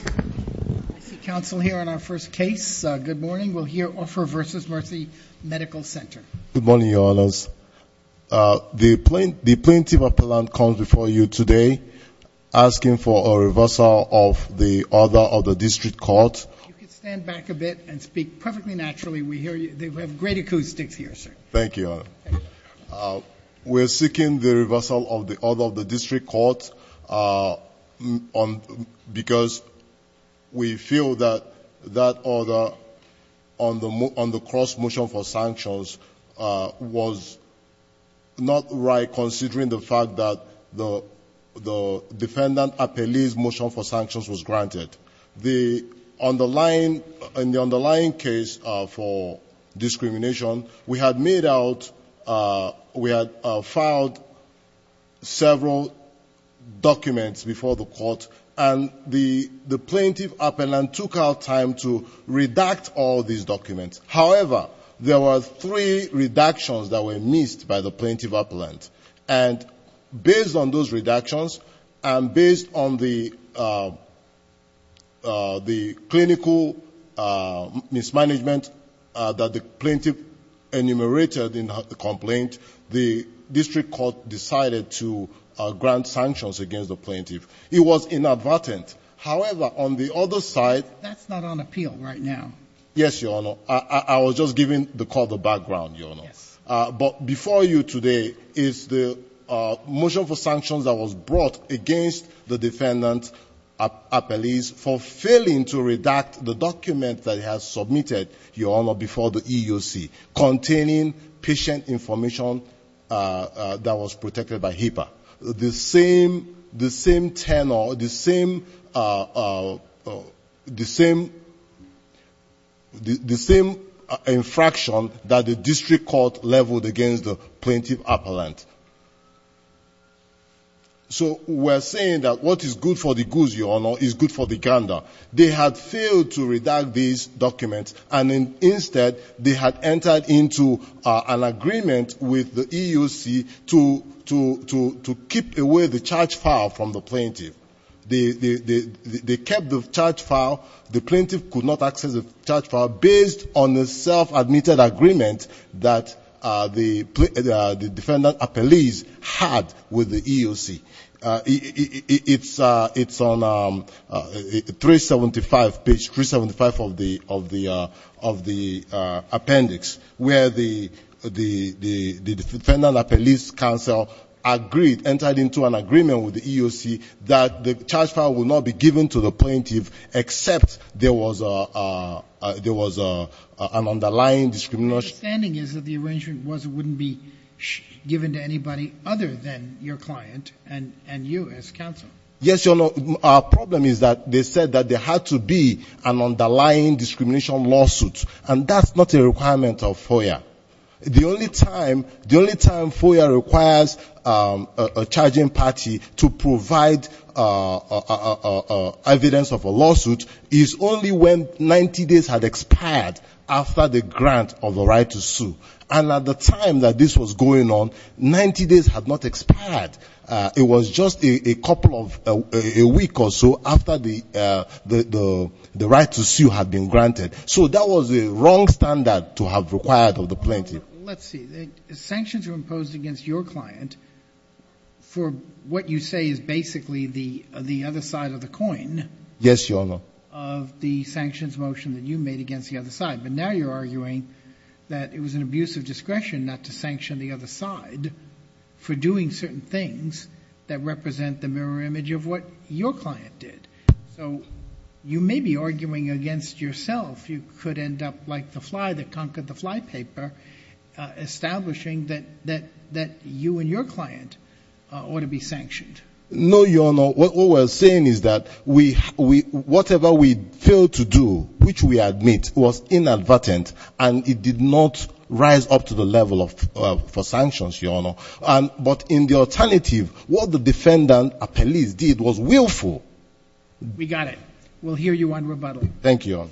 I see counsel here on our first case. Good morning. We'll hear Orfor v. Mercy Medical Center. Good morning, Your Honors. The plaintiff appellant comes before you today asking for a reversal of the order of the district court. If you could stand back a bit and speak perfectly naturally, we hear you. They have great acoustics here, sir. Thank you, Your Honor. We're seeking the reversal of the order of the district court because we feel that that order on the cross-motion for sanctions was not right considering the fact that the defendant appellee's motion for sanctions was granted. In the underlying case for discrimination, we had filed several documents before the court, and the plaintiff appellant took out time to redact all these documents. However, there were three redactions that were missed by the plaintiff appellant. And based on those redactions, and based on the clinical mismanagement that the plaintiff enumerated in the complaint, the district court decided to grant sanctions against the plaintiff. It was inadvertent. However, on the other side— That's not on appeal right now. Yes, Your Honor. I was just giving the court the background, Your Honor. But before you today is the motion for sanctions that was brought against the defendant appellee for failing to redact the document that he has submitted, Your Honor, the same infraction that the district court leveled against the plaintiff appellant. So we're saying that what is good for the Guzi, Your Honor, is good for the Ganda. They had failed to redact these documents, and instead they had entered into an agreement with the EUC to keep away the charge file from the plaintiff. They kept the charge file. The plaintiff could not access the charge file based on the self-admitted agreement that the defendant appellees had with the EUC. It's on page 375 of the appendix, where the defendant appellees' counsel agreed, entered into an agreement with the EUC, that the charge file would not be given to the plaintiff except there was an underlying discrimination. My understanding is that the arrangement was it wouldn't be given to anybody other than your client and you as counsel. Yes, Your Honor. Our problem is that they said that there had to be an underlying discrimination lawsuit, and that's not a requirement of FOIA. The only time FOIA requires a charging party to provide evidence of a lawsuit is only when 90 days had expired after the grant of the right to sue. And at the time that this was going on, 90 days had not expired. It was just a week or so after the right to sue had been granted. So that was the wrong standard to have required of the plaintiff. Let's see. Sanctions were imposed against your client for what you say is basically the other side of the coin. Yes, Your Honor. Of the sanctions motion that you made against the other side. But now you're arguing that it was an abuse of discretion not to sanction the other side for doing certain things that represent the mirror image of what your client did. So you may be arguing against yourself. You could end up like the fly that conquered the flypaper, establishing that you and your client ought to be sanctioned. No, Your Honor. What we were saying is that whatever we failed to do, which we admit was inadvertent, and it did not rise up to the level for sanctions, Your Honor. But in the alternative, what the defendant appellees did was willful. We got it. We'll hear you on rebuttal. Thank you, Your Honor.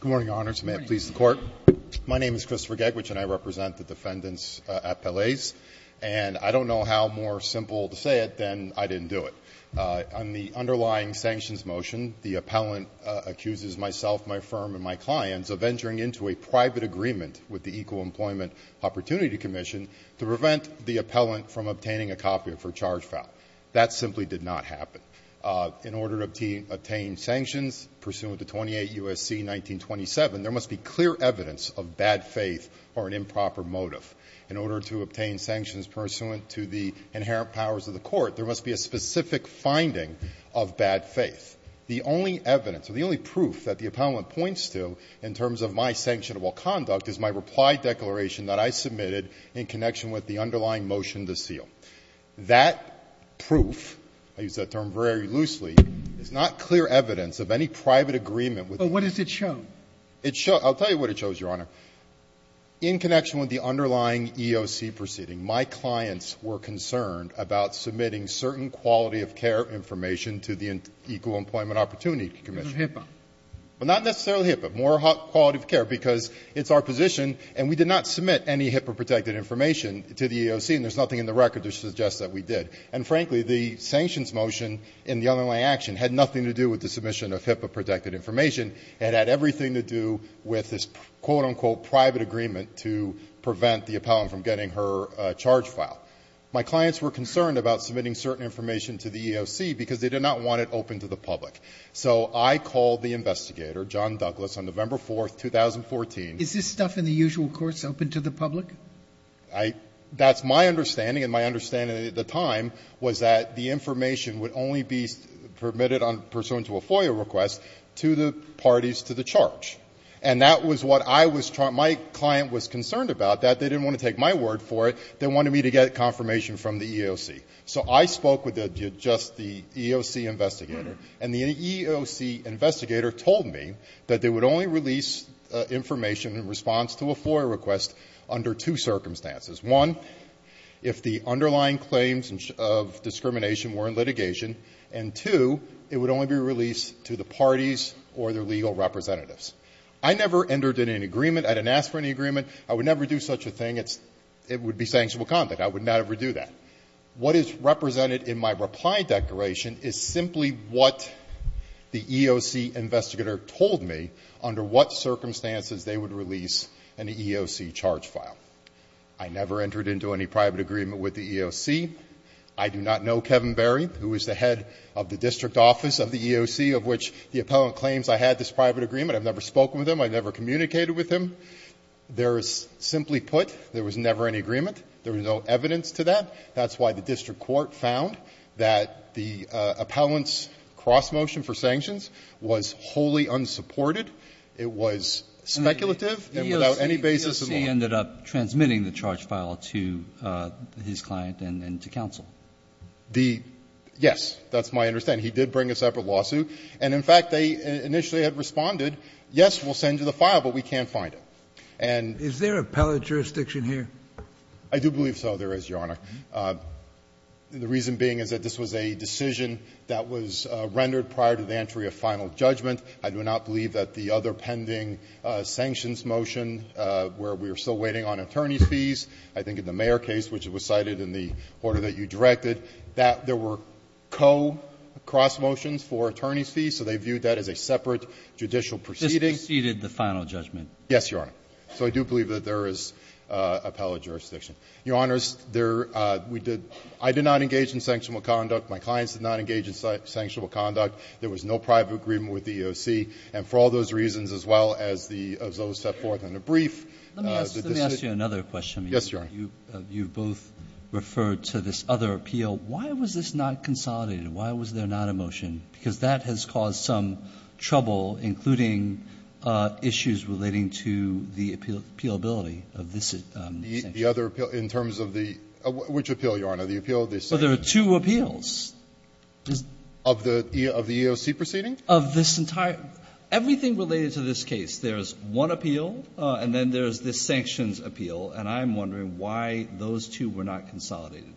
Good morning, Your Honors. May it please the Court. My name is Christopher Gegwich, and I represent the defendant's appellees. And I don't know how more simple to say it than I didn't do it. On the underlying sanctions motion, the appellant accuses myself, my firm, and my clients of entering into a private agreement with the Equal Employment Opportunity Commission to prevent the appellant from obtaining a copy of her charge file. That simply did not happen. In order to obtain sanctions pursuant to 28 U.S.C. 1927, there must be clear evidence of bad faith or an improper motive. In order to obtain sanctions pursuant to the inherent powers of the Court, there must be a specific finding of bad faith. The only evidence or the only proof that the appellant points to in terms of my sanctionable conduct is my reply declaration that I submitted in connection with the underlying motion to seal. That proof, I use that term very loosely, is not clear evidence of any private agreement with the Equal Employment Opportunity Commission. But what does it show? In connection with the underlying EOC proceeding, my clients were concerned about submitting certain quality of care information to the Equal Employment Opportunity Commission. HIPAA. Well, not necessarily HIPAA, more quality of care, because it's our position, and we did not submit any HIPAA-protected information to the EOC, and there's nothing in the record to suggest that we did. And frankly, the sanctions motion in the underlying action had nothing to do with the submission of HIPAA-protected information. It had everything to do with this, quote, unquote, private agreement to prevent the appellant from getting her charge file. My clients were concerned about submitting certain information to the EOC because they did not want it open to the public. So I called the investigator, John Douglas, on November 4th, 2014. Is this stuff in the usual courts open to the public? That's my understanding, and my understanding at the time was that the information would only be permitted pursuant to a FOIA request to the parties to the charge. And that was what I was trying to do. My client was concerned about that. They didn't want to take my word for it. They wanted me to get confirmation from the EOC. So I spoke with just the EOC investigator. And the EOC investigator told me that they would only release information in response to a FOIA request under two circumstances. One, if the underlying claims of discrimination were in litigation. And two, it would only be released to the parties or their legal representatives. I never entered in an agreement. I didn't ask for any agreement. I would never do such a thing. It would be sanctionable conduct. I would not ever do that. What is represented in my reply declaration is simply what the EOC investigator told me under what circumstances they would release an EOC charge file. I never entered into any private agreement with the EOC. I do not know Kevin Berry, who is the head of the district office of the EOC, of which the appellant claims I had this private agreement. I've never spoken with him. I've never communicated with him. There is simply put, there was never any agreement. There was no evidence to that. That's why the district court found that the appellant's cross-motion for sanctions was wholly unsupported. It was speculative and without any basis in law. Kennedy. The EOC ended up transmitting the charge file to his client and to counsel. The yes. That's my understanding. He did bring a separate lawsuit. And in fact, they initially had responded, yes, we'll send you the file, but we can't find it. And the EOC. I do believe so there is, Your Honor. The reason being is that this was a decision that was rendered prior to the entry of final judgment. I do not believe that the other pending sanctions motion, where we are still waiting on attorney's fees, I think in the Mayer case, which was cited in the order that you directed, that there were co-cross-motions for attorney's fees, so they viewed that as a separate judicial proceeding. This preceded the final judgment. Yes, Your Honor. So I do believe that there is appellate jurisdiction. Your Honors, there, we did, I did not engage in sanctionable conduct. My clients did not engage in sanctionable conduct. There was no private agreement with the EOC. And for all those reasons, as well as those set forth in the brief, the decision Let me ask you another question. Yes, Your Honor. You both referred to this other appeal. Why was this not consolidated? Why was there not a motion? Because that has caused some trouble, including issues relating to the appealability of this sanction. The other appeal, in terms of the – which appeal, Your Honor? The appeal of the sanctions? Well, there are two appeals. Of the EOC proceeding? Of this entire – everything related to this case. There is one appeal, and then there is this sanctions appeal. And I'm wondering why those two were not consolidated.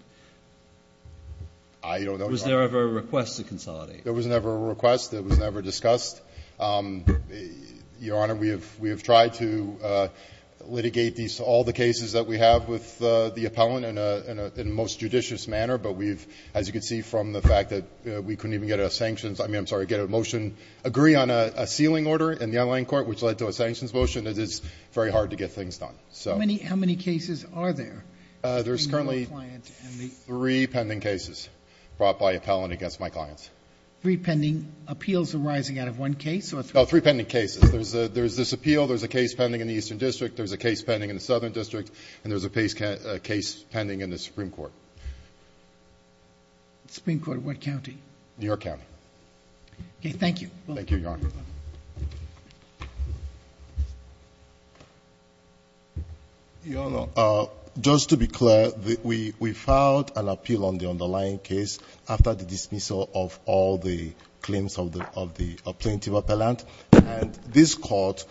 I don't know, Your Honor. Was there ever a request to consolidate? There was never a request. It was never discussed. Your Honor, we have tried to litigate all the cases that we have with the appellant in a most judicious manner, but we've – as you can see from the fact that we couldn't even get a sanctions – I mean, I'm sorry, get a motion – agree on a sealing order in the online court, which led to a sanctions motion. It is very hard to get things done. How many cases are there? There's currently three pending cases brought by appellant against my clients. Three pending appeals arising out of one case? No, three pending cases. There's this appeal. There's a case pending in the Eastern District. There's a case pending in the Southern District. And there's a case pending in the Supreme Court. Supreme Court, what county? New York County. Okay. Thank you. Thank you, Your Honor. Your Honor, just to be clear, we filed an appeal on the underlying case after the dismissal of all the claims of the plaintiff appellant. And this court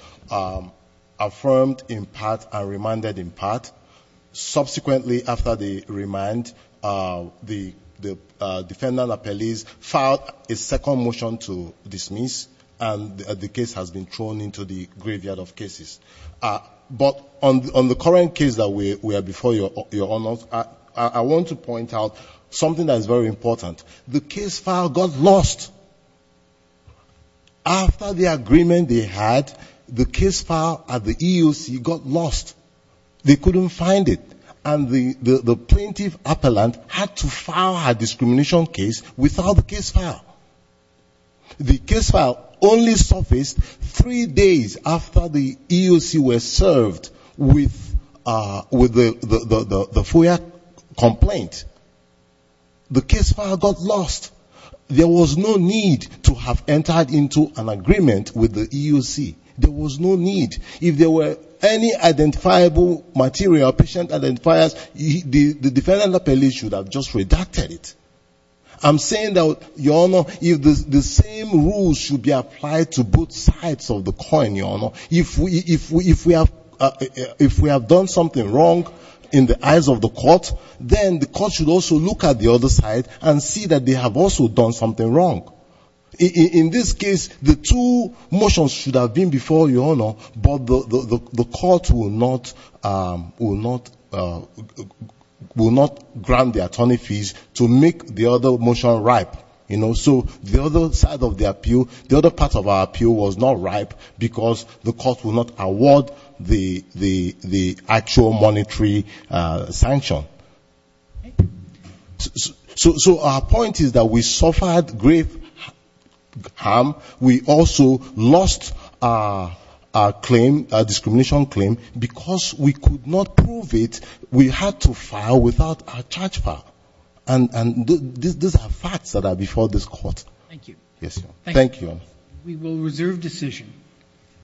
affirmed in part and reminded in part. Subsequently, after the remind, the defendant appellees filed a second motion to dismiss, and the case has been thrown into the graveyard of cases. But on the current case that we have before you, Your Honor, I want to point out something that is very important. The case file got lost. After the agreement they had, the case file at the EEOC got lost. They couldn't find it. And the plaintiff appellant had to file a discrimination case without the case file. The case file only surfaced three days after the EEOC was served with the FOIA complaint. The case file got lost. There was no need to have entered into an agreement with the EEOC. There was no need. If there were any identifiable material, patient identifiers, the defendant appellee should have just redacted it. I'm saying that, Your Honor, the same rules should be applied to both sides of the coin, Your Honor. If we have done something wrong in the eyes of the court, then the court should also look at the other side and see that they have also done something wrong. In this case, the two motions should have been before you, Your Honor, but the court will not grant the attorney fees to make the other motion ripe. So the other part of the appeal was not ripe because the court will not award the actual monetary sanction. So our point is that we suffered grave harm. We also lost our discrimination claim because we could not prove it. We had to file without a charge file. And these are facts that are before this court. Thank you. Thank you, Your Honor. We will reserve decision.